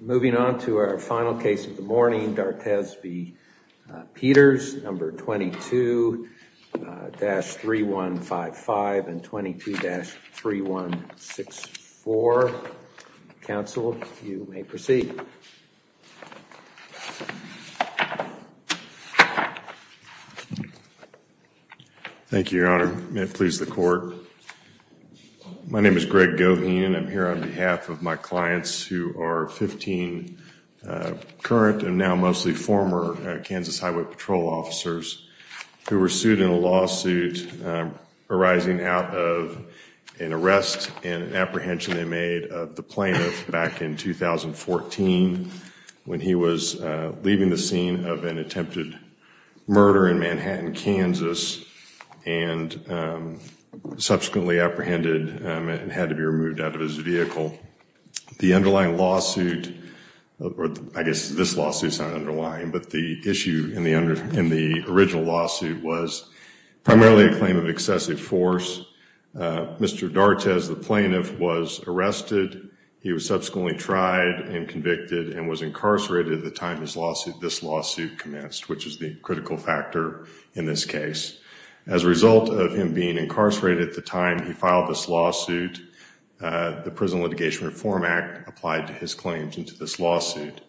moving on to our final case of the morning D'Artes be Peters number 22-3155 and 22-3164 counsel you may proceed thank you your honor may it please the court my name is Greg Goheen and i'm here on behalf of my clients who are 15 current and now mostly former Kansas Highway Patrol officers who were sued in a lawsuit arising out of an arrest and an apprehension they made of the plaintiff back in 2014 when he was leaving the scene of an attempted murder in Manhattan Kansas and subsequently apprehended and had to be removed out of his vehicle the underlying lawsuit or I guess this lawsuit is not underlying but the issue in the under in the original lawsuit was primarily a claim of excessive force Mr. D'Artes the plaintiff was arrested he was subsequently tried and convicted and was incarcerated at the time this lawsuit this lawsuit commenced which is the critical factor in this case as a result of him being incarcerated at the time he filed this lawsuit the prison litigation reform act applied to his claims into this lawsuit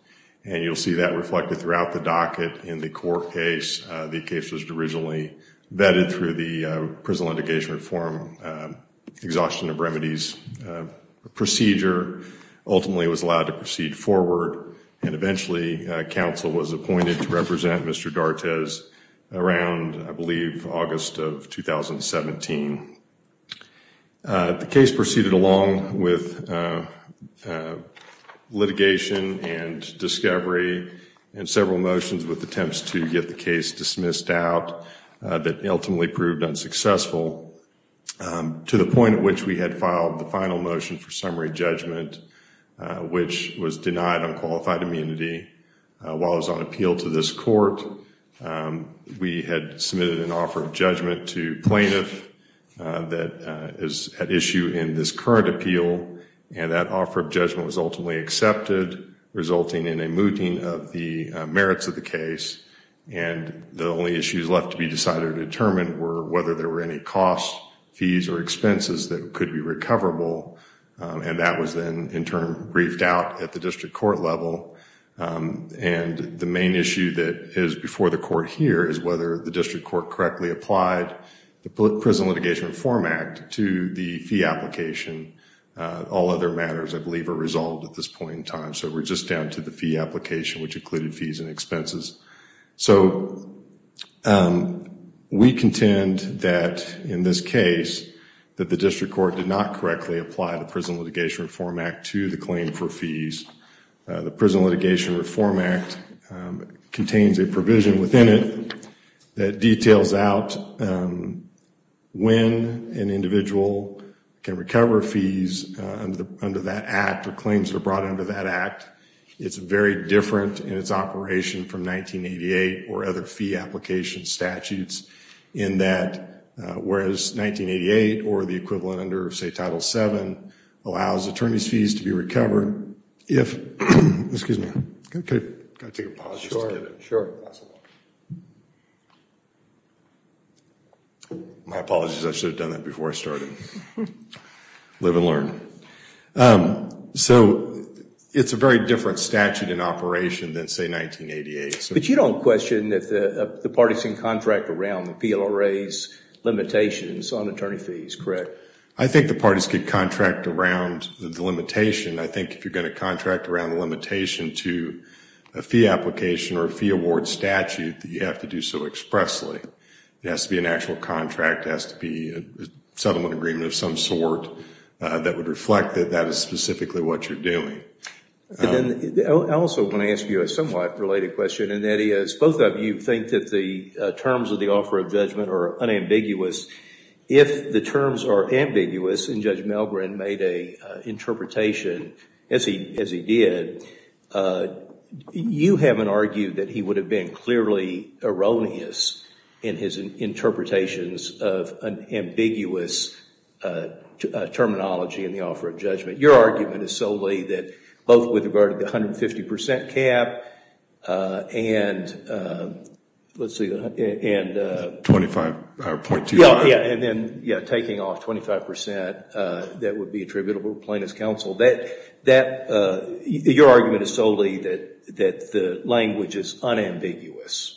and you'll see that reflected throughout the docket in the court case the case was originally vetted through the prison litigation reform exhaustion of remedies procedure ultimately was allowed to proceed forward and eventually council was appointed to represent Mr. D'Artes around I believe August of 2017. The case proceeded along with litigation and discovery and several motions with attempts to get the case dismissed out that ultimately proved unsuccessful to the point at which we filed the final motion for summary judgment which was denied on qualified immunity while I was on appeal to this court we had submitted an offer of judgment to plaintiff that is at issue in this current appeal and that offer of judgment was ultimately accepted resulting in a mooting of the merits of the case and the only issues left to be decided or determined were whether there were any costs fees or expenses that could be recoverable and that was then in turn briefed out at the district court level and the main issue that is before the court here is whether the district court correctly applied the prison litigation reform act to the fee application all other matters I believe are resolved at this point in time so we're just down to the fee application which included fees and expenses so we contend that in this case that the district court did not correctly apply the prison litigation reform act to the claim for fees the prison litigation reform act contains a provision within it that details out when an individual can recover fees under that act or claims that are brought under that act it's very different in its operation from 1988 or other fee application statutes in that whereas 1988 or the equivalent under say title 7 allows attorney's fees to be recovered if excuse me okay sure my apologies I should have done that before I started live and learn so it's a very different statute in operation than say 1988 but you don't question that the partisan contract around the PLRA's limitations on attorney fees correct I think the parties could contract around the limitation I think if you're going to contract around the limitation to a fee application or a fee award statute that you have to do so expressly it has to be an actual contract has to be a settlement agreement of some sort that would reflect that that is specifically what you're doing and then I also want to ask you a somewhat related question and that is both of you think that the terms of the offer of judgment are unambiguous if the terms are ambiguous and judge Melgren made a interpretation as he as he did you haven't argued that he would have been clearly erroneous in his interpretations of an ambiguous terminology in the offer of judgment your argument is solely that both with regard to the 150 percent cap and let's see and 25 or 0.2 yeah yeah and then yeah taking off 25 percent that would be attributable plaintiff's counsel that that uh your argument is solely that that the language is unambiguous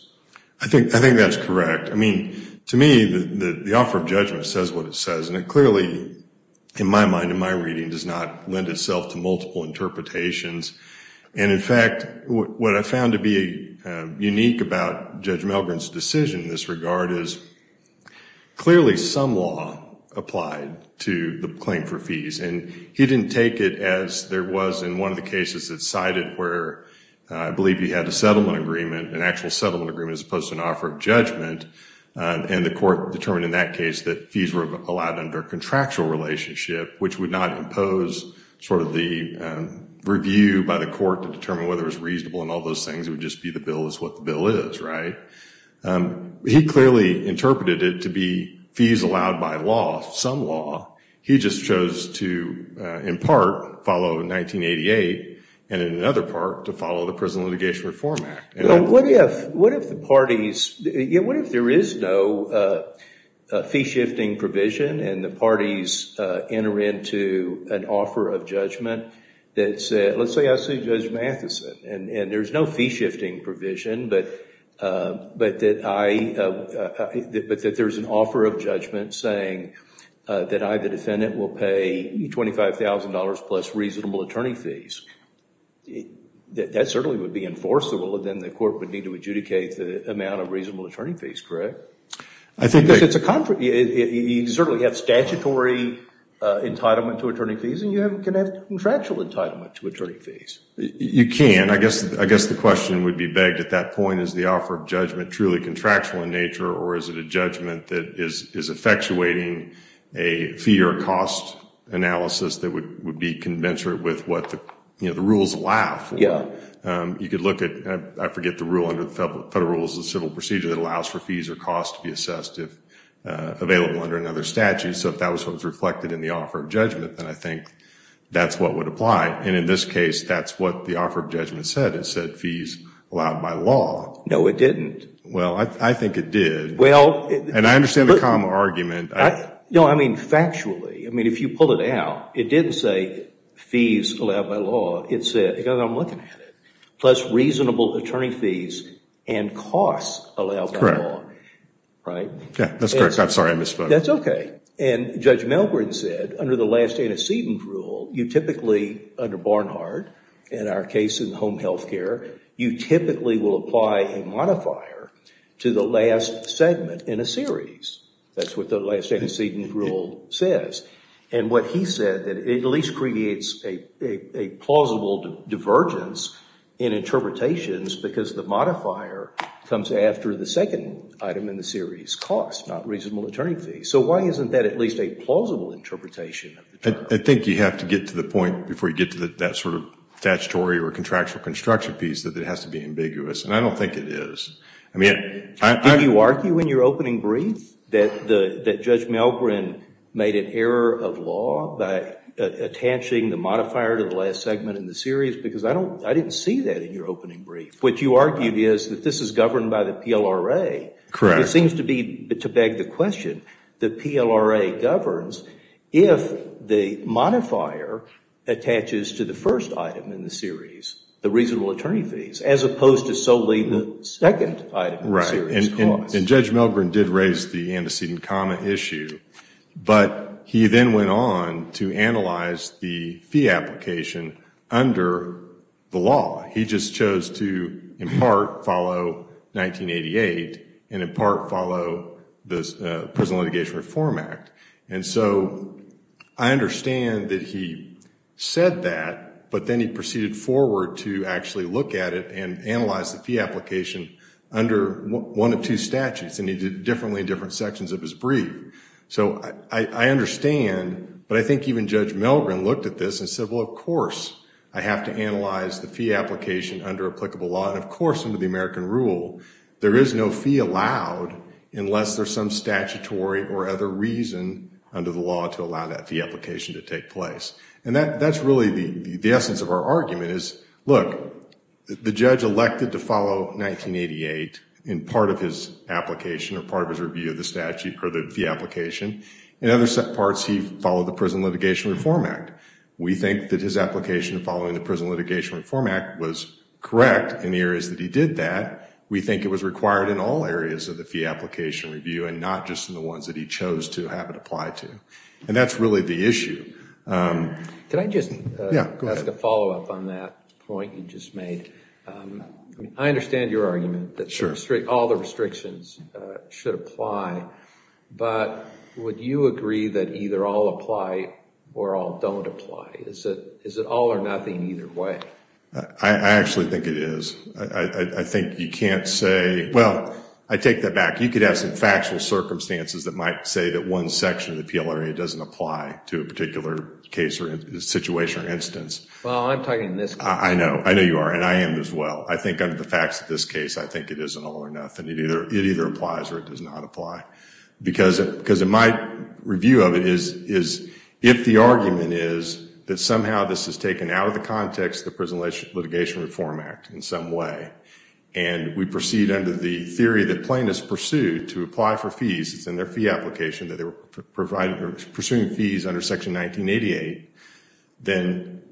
I think I think that's correct I mean to me the the offer of judgment says what it says and it clearly in my mind in my reading does not lend itself to multiple interpretations and in fact what I found to be unique about Judge Melgren's decision in this regard is clearly some law applied to the claim for fees and he didn't take it as there was in one of the cases that cited where I believe he had a settlement agreement an actual settlement agreement as opposed to an offer of judgment and the court determined in that case that fees were allowed under contractual relationship which would not impose sort of the review by the court to determine whether it was reasonable and all those things it would just be the bill is what the bill is right um he clearly interpreted it to be fees allowed by law some law he just chose to in part follow 1988 and in another part to follow the prison litigation reform act and what if what if the parties yeah what if there is no uh fee shifting provision and the parties uh enter into an offer of judgment that said let's say I see Judge Matheson and and there's no fee shifting provision but uh but that I uh but that there's an offer of judgment saying that I the defendant will pay $25,000 plus reasonable attorney fees that that certainly would be enforceable then the court would need to adjudicate the amount of reasonable attorney fees correct I think it's a contract you certainly have statutory uh entitlement to attorney fees and you haven't can have contractual entitlement to attorney fees you can I guess I guess the question would be begged at that point is the offer of judgment truly contractual in nature or is it a judgment that is is effectuating a fee or cost analysis that would would be conventional with what the you know the rules allow yeah um you could look at I forget the rule under the federal rules of civil procedure that allows for fees or costs to be assessed if uh available under another statute so if that was what was reflected in the offer of judgment then I think that's what would apply and in this case that's what the offer of judgment said it said fees allowed by law no it didn't well I think it did well and I understand the common argument no I mean factually I mean if you pull it out it didn't say fees allowed by law it said because I'm looking at it plus reasonable attorney fees and costs allowed by law right yeah that's correct I'm sorry I misspoke that's okay and Judge Milgren said under the last antecedent rule you typically under Barnhart in our case in home health care you typically will apply a modifier to the last segment in a series that's what the last antecedent rule says and what he said that it at least creates a a plausible divergence in interpretations because the modifier comes after the second item in the series cost not reasonable attorney fees so why isn't that at least a plausible interpretation I think you have to get to the point before you get to that sort of statutory or contractual construction piece that it has to be ambiguous and I don't think it is I mean I think you argue in your opening brief that the that Judge Milgren made an error of law by attaching the modifier to the last segment in the series because I don't I didn't see that in PLRA correct it seems to be to beg the question that PLRA governs if the modifier attaches to the first item in the series the reasonable attorney fees as opposed to solely the second item right and Judge Milgren did raise the antecedent comma issue but he then went on to analyze the fee application under the law he just chose to in part follow 1988 and in part follow the Prison Litigation Reform Act and so I understand that he said that but then he proceeded forward to actually look at it and analyze the fee application under one of two statutes and he did differently in different sections of his brief so I understand but I think even Judge Milgren looked at this and said well of course I have to analyze the fee application under applicable law and of course under the American rule there is no fee allowed unless there's some statutory or other reason under the law to allow that fee application to take place and that that's really the the essence of our argument is look the judge elected to follow 1988 in part of his application or part of his review of the statute or the fee application in other parts he followed the Prison Litigation Reform Act we think that his application following the Prison Litigation Reform Act was correct in the areas that he did that we think it was required in all areas of the fee application review and not just in the ones that he chose to have it applied to and that's really the issue. Can I just ask a follow-up on that point you just made? I understand your argument that restrict all the restrictions should apply but would you agree that either all apply or all don't apply is it is it all or nothing either way? I actually think it is I think you can't say well I take that back you could have some factual circumstances that might say that one section of the PLRA doesn't apply to a particular case or situation or instance. Well I'm all or nothing it either it either applies or it does not apply because it because in my review of it is is if the argument is that somehow this is taken out of the context the Prison Litigation Reform Act in some way and we proceed under the theory that plaintiffs pursued to apply for fees it's in their fee application that they were provided pursuing fees under section 1988 then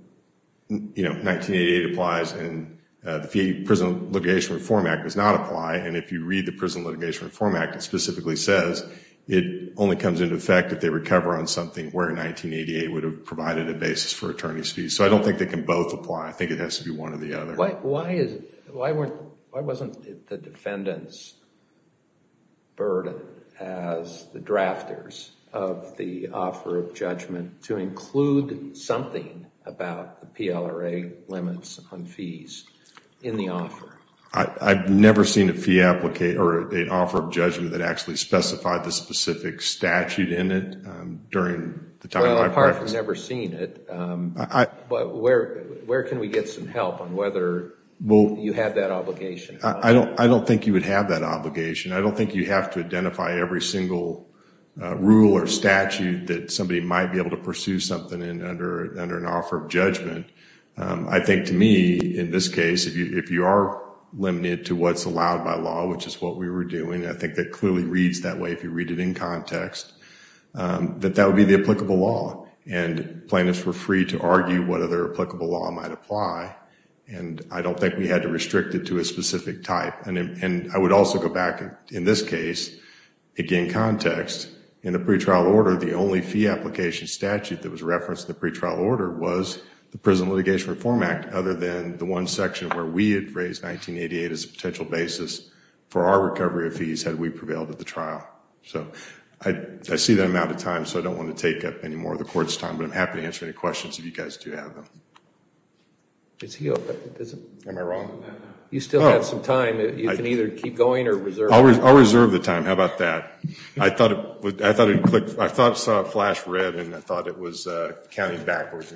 you know 1988 applies and the Prison Litigation Reform Act does not apply and if you read the Prison Litigation Reform Act it specifically says it only comes into effect if they recover on something where 1988 would have provided a basis for attorney's fees so I don't think they can both apply I think it has to be one or the other. Why is why weren't why wasn't the defendant's burden as the drafters of the offer of judgment to include something about the PLRA limits on fees in the offer? I've never seen a fee applicator or an offer of judgment that actually specified the specific statute in it during the time apart from never seen it but where where can we get some help on whether well you have that obligation? I don't I don't think you would have that obligation I don't think you have to identify every single rule or statute that somebody might be able to pursue something in under under an offer of judgment I think to me in this case if you if you are limited to what's allowed by law which is what we were doing I think that clearly reads that way if you read it in context that that would be the applicable law and plaintiffs were free to argue what other applicable law might apply and I don't think we had to restrict it to a specific type and and I would also go back in this case again context in the pretrial order the only fee application statute that was referenced in the pretrial order was the Prison Litigation Reform Act other than the one section where we had raised 1988 as a potential basis for our recovery of fees had we prevailed at the trial so I see that amount of time so I don't want to take up any more of the court's time but I'm happy to answer any questions if you guys do have them. Is he open? Am I wrong? You still have some time you can either keep going or reserve. I'll reserve the time how about that I thought it would I thought it clicked I thought it saw a flash red and I thought it was counting backwards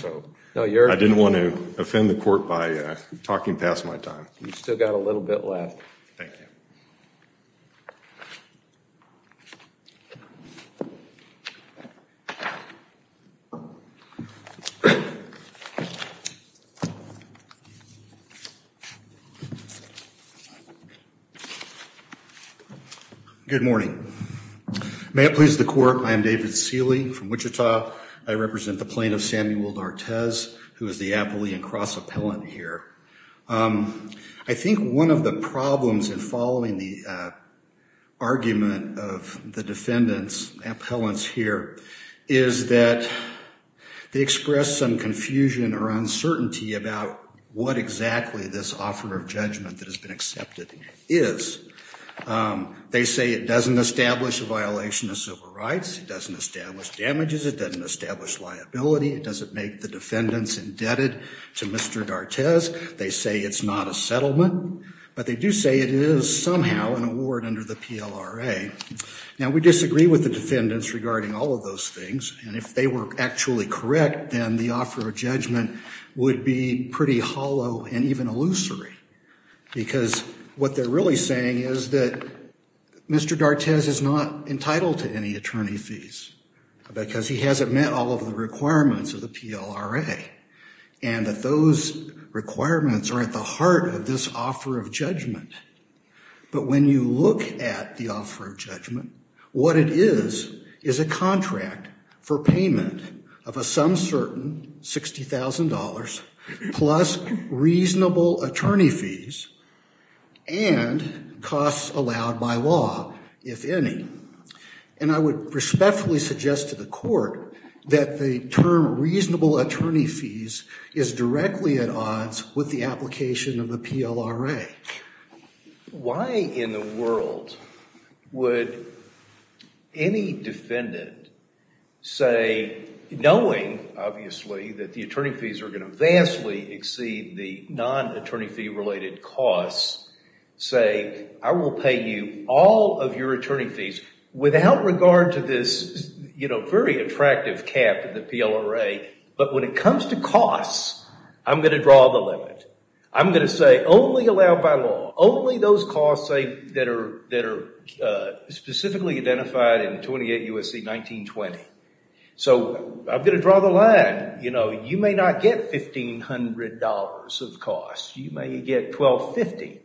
so I didn't want to offend the court by talking past my time. You've still got a little bit left. Thank you. Good morning. May it please the court I am David Seeley from Wichita. I represent the plaintiff Samuel Nortez who is the Appellee and Cross Appellant here. I think one of the problems in following the argument of the defendants appellants here is that they express some confusion or uncertainty about what exactly this offer of judgment that has been accepted is. They say it doesn't establish a violation of civil rights. It doesn't establish damages. It doesn't establish liability. It doesn't make the defendants indebted to Mr. Nortez. They say it's not a settlement but they do say it is somehow an award under the PLRA. Now we disagree with the defendants regarding all of those things and if they were actually correct then the offer of judgment would be pretty hollow and even illusory because what they're really saying is that Mr. Nortez is not entitled to any attorney fees because he hasn't met all of the requirements of the PLRA and that those requirements are at the heart of this offer of judgment. But when you look at the offer of judgment what it is is a contract for payment of a some certain $60,000 plus reasonable attorney fees and costs allowed by law if any. And I would respectfully suggest to the court that the term reasonable attorney fees is directly at odds with the application of the PLRA. Why in the world would any defendant say knowing obviously that the attorney fees are going to vastly exceed the non-attorney fee related costs say I will pay you all of your attorney fees without regard to this you know very attractive cap to the PLRA but when it comes to costs I'm going to draw the limit. I'm going to say only allowed by law only those costs say that are that are specifically identified in 28 U.S.C. 1920. So I'm going to draw the line you know you may not get $1,500 of costs you may get $1,250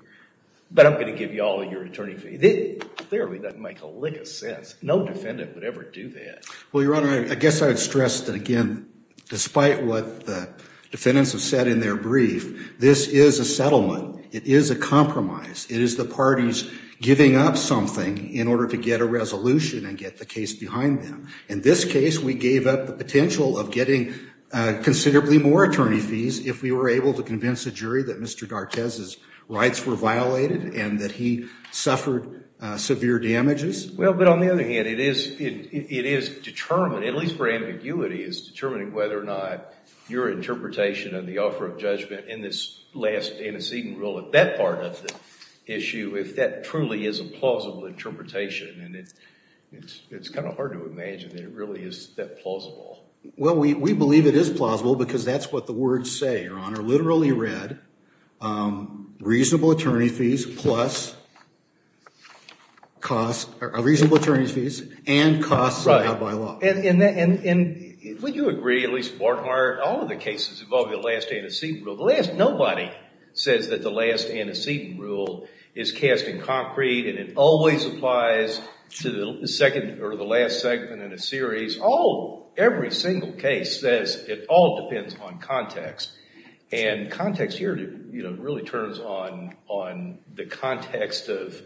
but I'm going to give you all of your attorney fees. Clearly doesn't make a lick of sense. No defendant would ever do that. Well your honor I guess I would stress that again despite what the defendants have said in their brief this is a settlement. It is a compromise. It is the parties giving up something in order to get a resolution and get the case behind them. In this case we gave up the potential of getting considerably more attorney fees if we were able to convince the jury that Mr. Gartez's rights were violated and that he suffered severe damages. Well but on the other hand it is it is determined at least for ambiguity is determining whether or not your interpretation of the offer of judgment in this last antecedent rule at that part of the issue if that truly is a plausible interpretation and it's it's kind of hard to imagine that it really is that plausible. Well we we believe it is plausible because that's the words say your honor literally read reasonable attorney fees plus cost a reasonable attorney's fees and costs by law. And would you agree at least Mortimer all of the cases involving the last antecedent rule the last nobody says that the last antecedent rule is cast in concrete and it always applies to the second or the last segment in a series all every single case says it all is on context and context here you know really turns on on the context of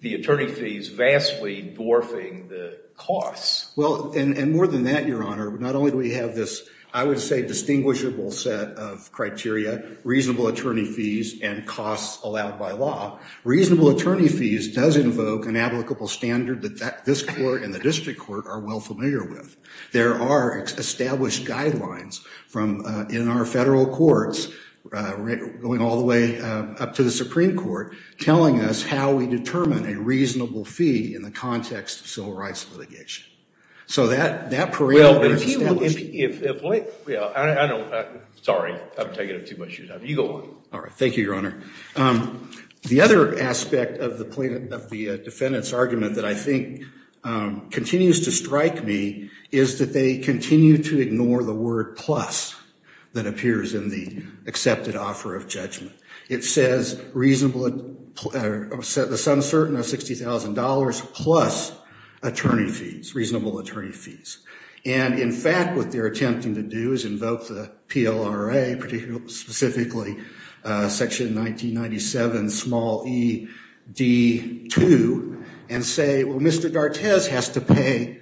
the attorney fees vastly dwarfing the costs. Well and and more than that your honor not only do we have this I would say distinguishable set of criteria reasonable attorney fees and costs allowed by law reasonable attorney fees does invoke an applicable standard that that this court and the district court are well familiar with. There are established guidelines from in our federal courts going all the way up to the Supreme Court telling us how we determine a reasonable fee in the context of civil rights litigation. So that that period. Well I don't know sorry I'm taking up too much time. You go on. All right thank you your honor. The other aspect of the plaintiff of the defendant's argument that I think continues to strike me is that they continue to ignore the word plus that appears in the accepted offer of judgment. It says reasonable or the sum certain of sixty thousand dollars plus attorney fees reasonable attorney fees and in fact what they're attempting to do is invoke the PLRA particularly specifically section 1997 small e d 2 and say well Mr. D'Artes has to pay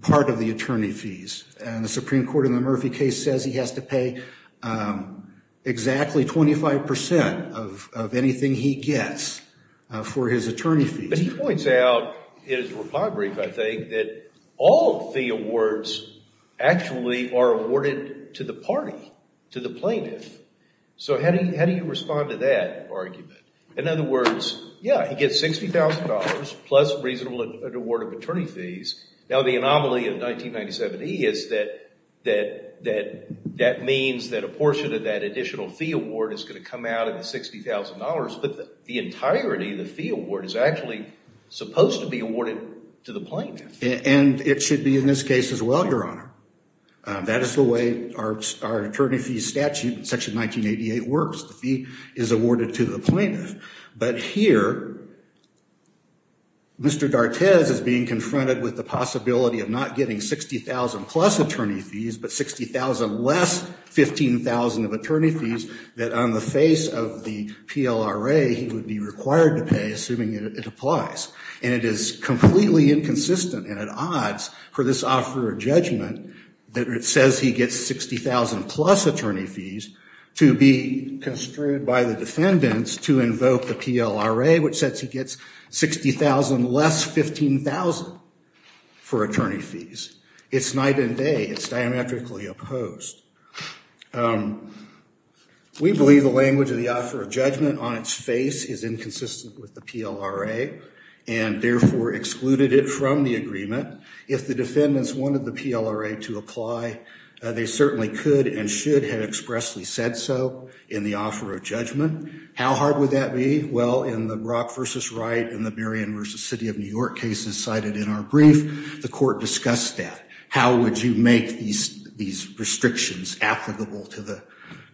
part of the attorney fees and the Supreme Court in the Murphy case says he has to pay exactly 25 percent of of anything he gets for his attorney fees. But he points out in his reply brief I think that all the awards actually are awarded to the party to the plaintiff. So how do you how do you respond to that argument? In other words yeah he gets sixty thousand dollars plus reasonable award of attorney fees. Now the anomaly of 1997e is that that that that means that a portion of that additional fee award is going to come out of the sixty thousand dollars but the entirety of the fee award is actually supposed to be awarded to the plaintiff. And it should be in this case as well your honor. That is the way our attorney fee statute section 1988 works. The fee is awarded to the plaintiff but here Mr. D'Artes is being confronted with the possibility of not getting sixty thousand plus attorney fees but sixty thousand less fifteen thousand of attorney fees that on the face of the PLRA he would be required to pay assuming it applies. And it is completely inconsistent and at odds for this offer of judgment that it says he gets sixty thousand plus attorney fees to be construed by the defendants to invoke the PLRA which says he gets sixty thousand less fifteen thousand for attorney fees. It's night and day. It's diametrically opposed. We believe the language of the offer of judgment on its face is inconsistent with the PLRA and therefore excluded it from the agreement. If the defendants wanted the PLRA to apply they certainly could and should have expressly said so in the offer of judgment. How hard would that be? Well in the Brock versus Wright and the Marion versus City of New York cases cited in our brief the court discussed that. How would you make these these restrictions applicable to the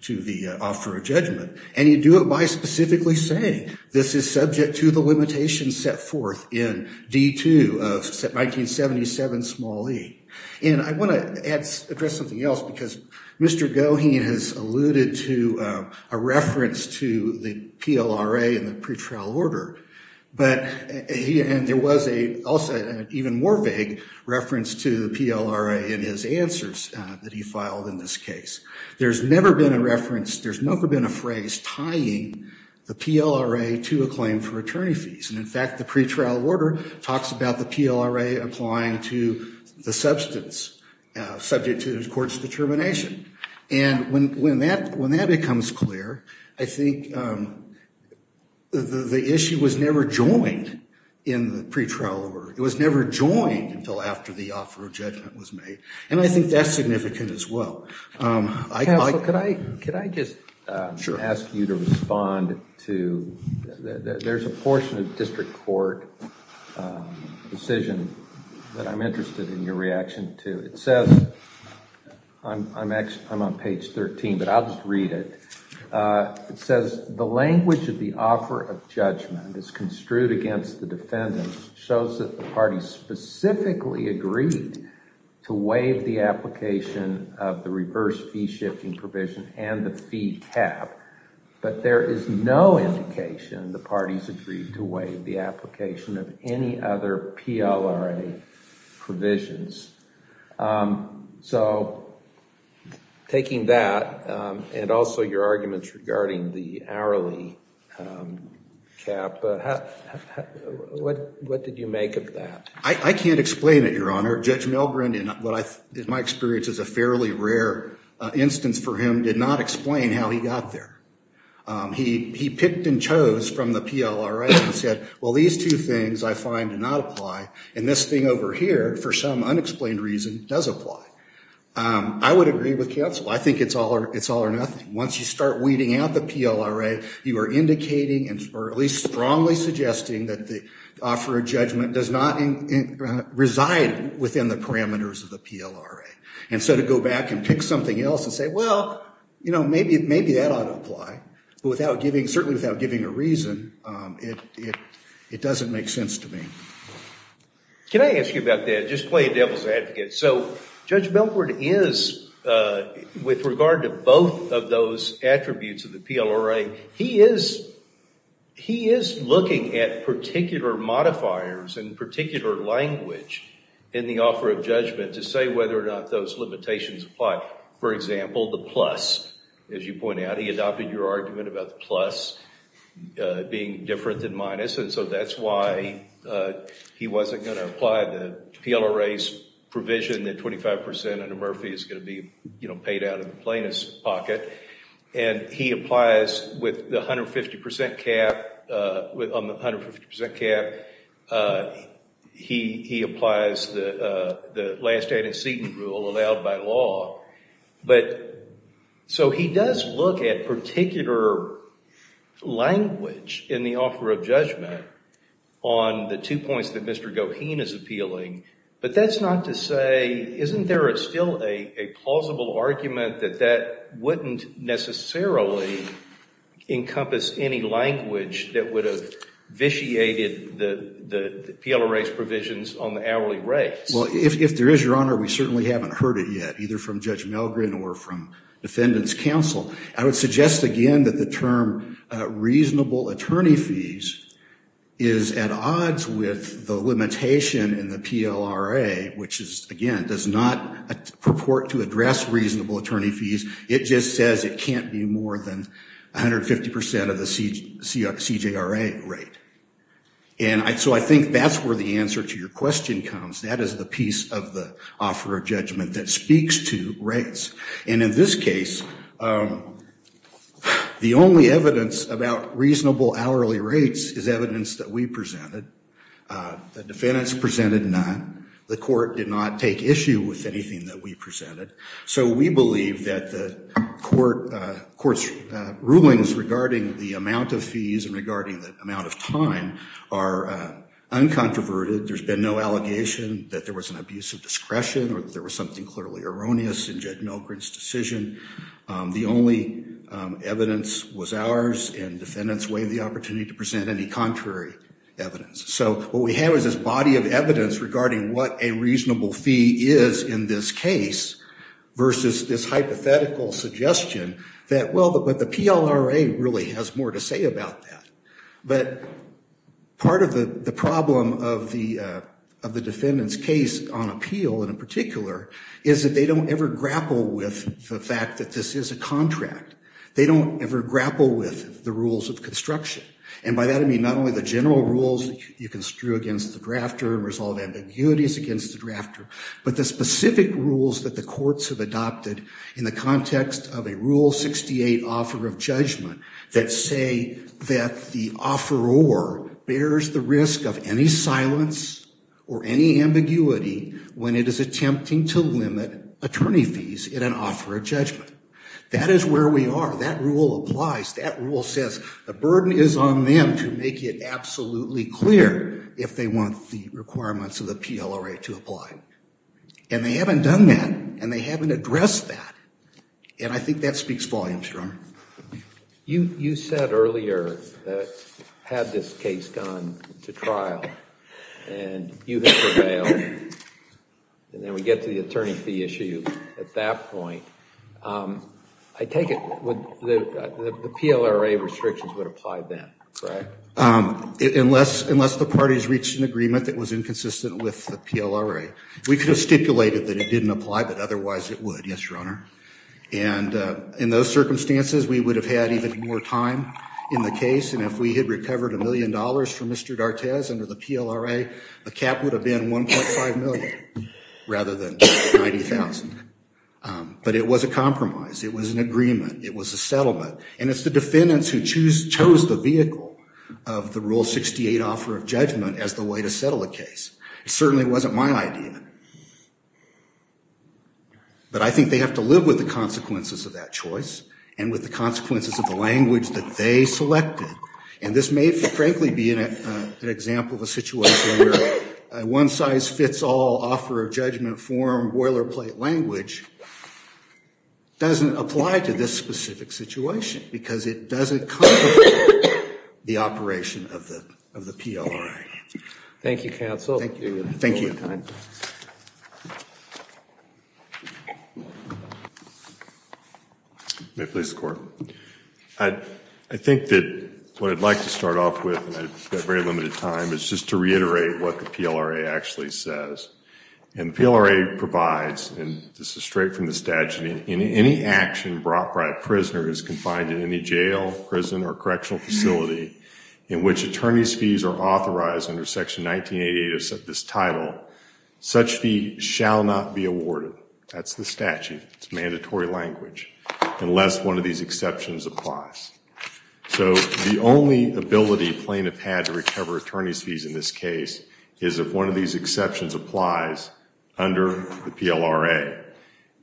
to the offer of judgment? And you do it by specifically saying this is subject to the limitations set forth in D2 of 1977 small e. And I want to add address something else because Mr. Goheen has alluded to a reference to the PLRA in the pretrial order but he and there was a also an even more vague reference to the PLRA in his answers that he filed in this case. There's never been a reference there's never been a phrase tying the PLRA to a claim for attorney fees and in fact the pretrial order talks about the PLRA applying to the substance subject to the court's determination. And when when that when that becomes clear I think the the issue was never joined in the pretrial order. It was never joined until after the offer of judgment was made and I think that's significant as well. Counselor, could I could I just ask you to respond to there's a portion of district court decision that I'm interested in your reaction to. It says I'm actually I'm on page 13 but I'll just read it. It says the language of the offer of judgment is construed against the defendant shows that the party specifically agreed to waive the application of the reverse fee shifting provision and the fee cap but there is no indication the party's agreed to waive the application of any other PLRA provisions. So taking that and also your arguments regarding the hourly cap what what did you make of that? I can't explain it your honor. Judge Milgren in what I my experience is a fairly rare instance for him did not explain how he got there. He he picked and chose from the PLRA and said well these two things I find do not apply and this thing over here for some unexplained reason does apply. I would agree with counsel I think it's all it's all or nothing. Once you start weeding out the PLRA you are indicating and or at least strongly suggesting that the offer of judgment does not reside within the parameters of the PLRA and so to go back and pick something else and say well you know maybe maybe that ought to apply but without giving certainly without giving a reason it it doesn't make sense to me. Can I ask you about just play devil's advocate. So Judge Milgren is with regard to both of those attributes of the PLRA he is he is looking at particular modifiers and particular language in the offer of judgment to say whether or not those limitations apply. For example the plus as you point out he adopted your argument about the plus being different than minus and so that's why he wasn't going to apply the PLRA's provision that 25 percent under Murphy is going to be you know paid out of the plaintiff's pocket and he applies with the 150 percent cap uh with on the 150 percent cap uh he he applies the uh the last ad incedent rule allowed by law but so he does look at particular language in the offer of judgment on the two points that Mr. Goheen is appealing but that's not to say isn't there still a a plausible argument that that wouldn't necessarily encompass any language that would have vitiated the the PLRA's provisions on the hourly rates. Well if there is your honor we certainly haven't heard it yet either from Judge Milgren or from defendants counsel. I would suggest again that the term reasonable attorney fees is at odds with the limitation in the PLRA which is again does not purport to address reasonable attorney fees it just says it can't be more than 150 percent of the CJRA rate and I so I think that's where the answer to your question comes that is the piece of the offer of judgment that speaks to rates and in this case um the only evidence about reasonable hourly rates is evidence that we presented. The defendants presented none. The court did not take issue with anything that we presented so we believe that the court uh court's rulings regarding the amount of fees and regarding the amount of time are uh uncontroverted. There's been no allegation that there was an abuse of discretion or there was something clearly erroneous in Judge Milgren's decision. The only evidence was ours and defendants waived the opportunity to present any contrary evidence. So what we have is this body of evidence regarding what a reasonable fee is in this case versus this hypothetical suggestion that well but the PLRA really has more to say about that but part of the the problem of the uh of the defendant's case on appeal in particular is that they don't ever grapple with the fact that this is a contract. They don't ever grapple with the rules of construction and by that I mean not only the general rules you can screw against the drafter and resolve ambiguities against the drafter but the specific rules that the courts have adopted in the context of a rule 68 offer of judgment that say that the offeror bears the risk of any silence or any ambiguity when it is attempting to limit attorney fees in an offer of judgment. That is where we are. That rule applies. That rule says the burden is on them to make it absolutely clear if they want the requirements of the PLRA to apply and they haven't done that and they haven't addressed that and I think that speaks volumes. You said earlier that had this case gone to trial and you have prevailed and then we get to the attorney fee issue at that point. I take it with the the PLRA restrictions would apply then right? Unless unless the parties reached an agreement that was inconsistent with the PLRA. We could have stipulated that it didn't apply but otherwise it would yes your honor and in those circumstances we would have had even more time in the case and if we had recovered a million dollars for Mr. D'Artes under the PLRA the cap would have been 1.5 million rather than 90,000 but it was a compromise. It was an agreement. It was a settlement and it's the defendants who choose chose the vehicle of the rule 68 offer of judgment as the way to settle a case. It certainly wasn't my idea but I think they have to live with the consequences of that choice and with the consequences of the language that they selected and this may frankly be an example of a situation where a one-size-fits-all offer of judgment form boilerplate language doesn't apply to this specific situation because it doesn't the operation of the of the PLRA. Thank you counsel. Thank you. May it please the court. I think that what I'd like to start off with and I've got very limited time is just to reiterate what the PLRA actually says and PLRA provides and this is straight from the in any action brought by a prisoner is confined in any jail prison or correctional facility in which attorney's fees are authorized under section 1988 of this title such fee shall not be awarded. That's the statute. It's mandatory language unless one of these exceptions applies. So the only ability plaintiff had to recover attorney's fees in this case is if one of these applies under the PLRA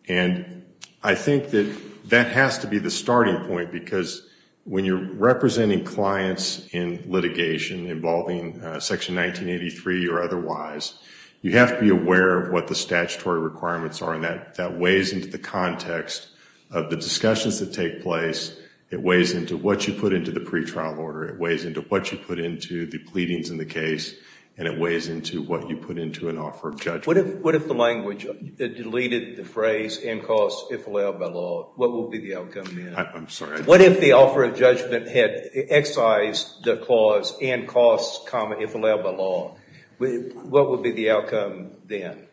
and I think that that has to be the starting point because when you're representing clients in litigation involving section 1983 or otherwise you have to be aware of what the statutory requirements are and that that weighs into the context of the discussions that take place. It weighs into what you put into the pretrial order. It weighs into what you put into the pleadings in the case and it weighs into what you put into an offer of judgment. What if the language it deleted the phrase and costs if allowed by law what will be the outcome? What if the offer of judgment had excised the clause and costs comma if allowed by law what would be the outcome then?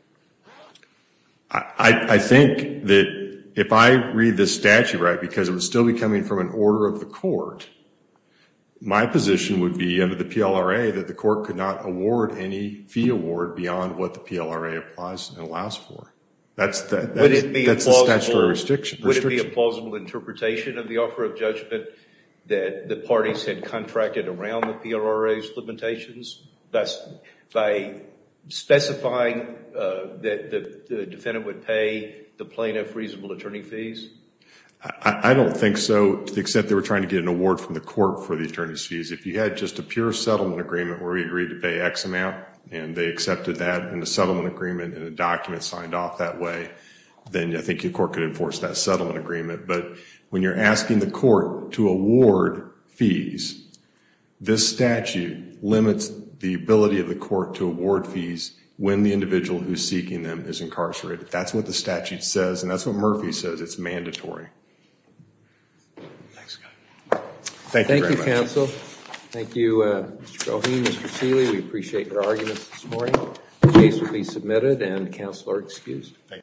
I think that if I read this statute right because it would still be coming from an order of the court my position would be under the PLRA that the court could not award any fee award beyond what the PLRA applies and allows for. That's the statutory restriction. Would it be a plausible interpretation of the offer of judgment that the parties had contracted around the PLRA's limitations? That's by specifying that the defendant would pay the plaintiff reasonable attorney fees? I don't think so to the extent they were trying to get an award from the court for the attorney's fees. If you had just a pure settlement agreement where we agreed to pay x amount and they accepted that in the settlement agreement and a document signed off that way then I think your court could enforce that settlement agreement. But when you're asking the court to award fees this statute limits the ability of the court to award fees when the who's seeking them is incarcerated. That's what the statute says and that's what Murphy says. It's mandatory. Thank you very much. Thank you counsel. Thank you Mr. Roheen, Mr. Seeley. We appreciate your arguments this morning. The case will be submitted and counsel are excused.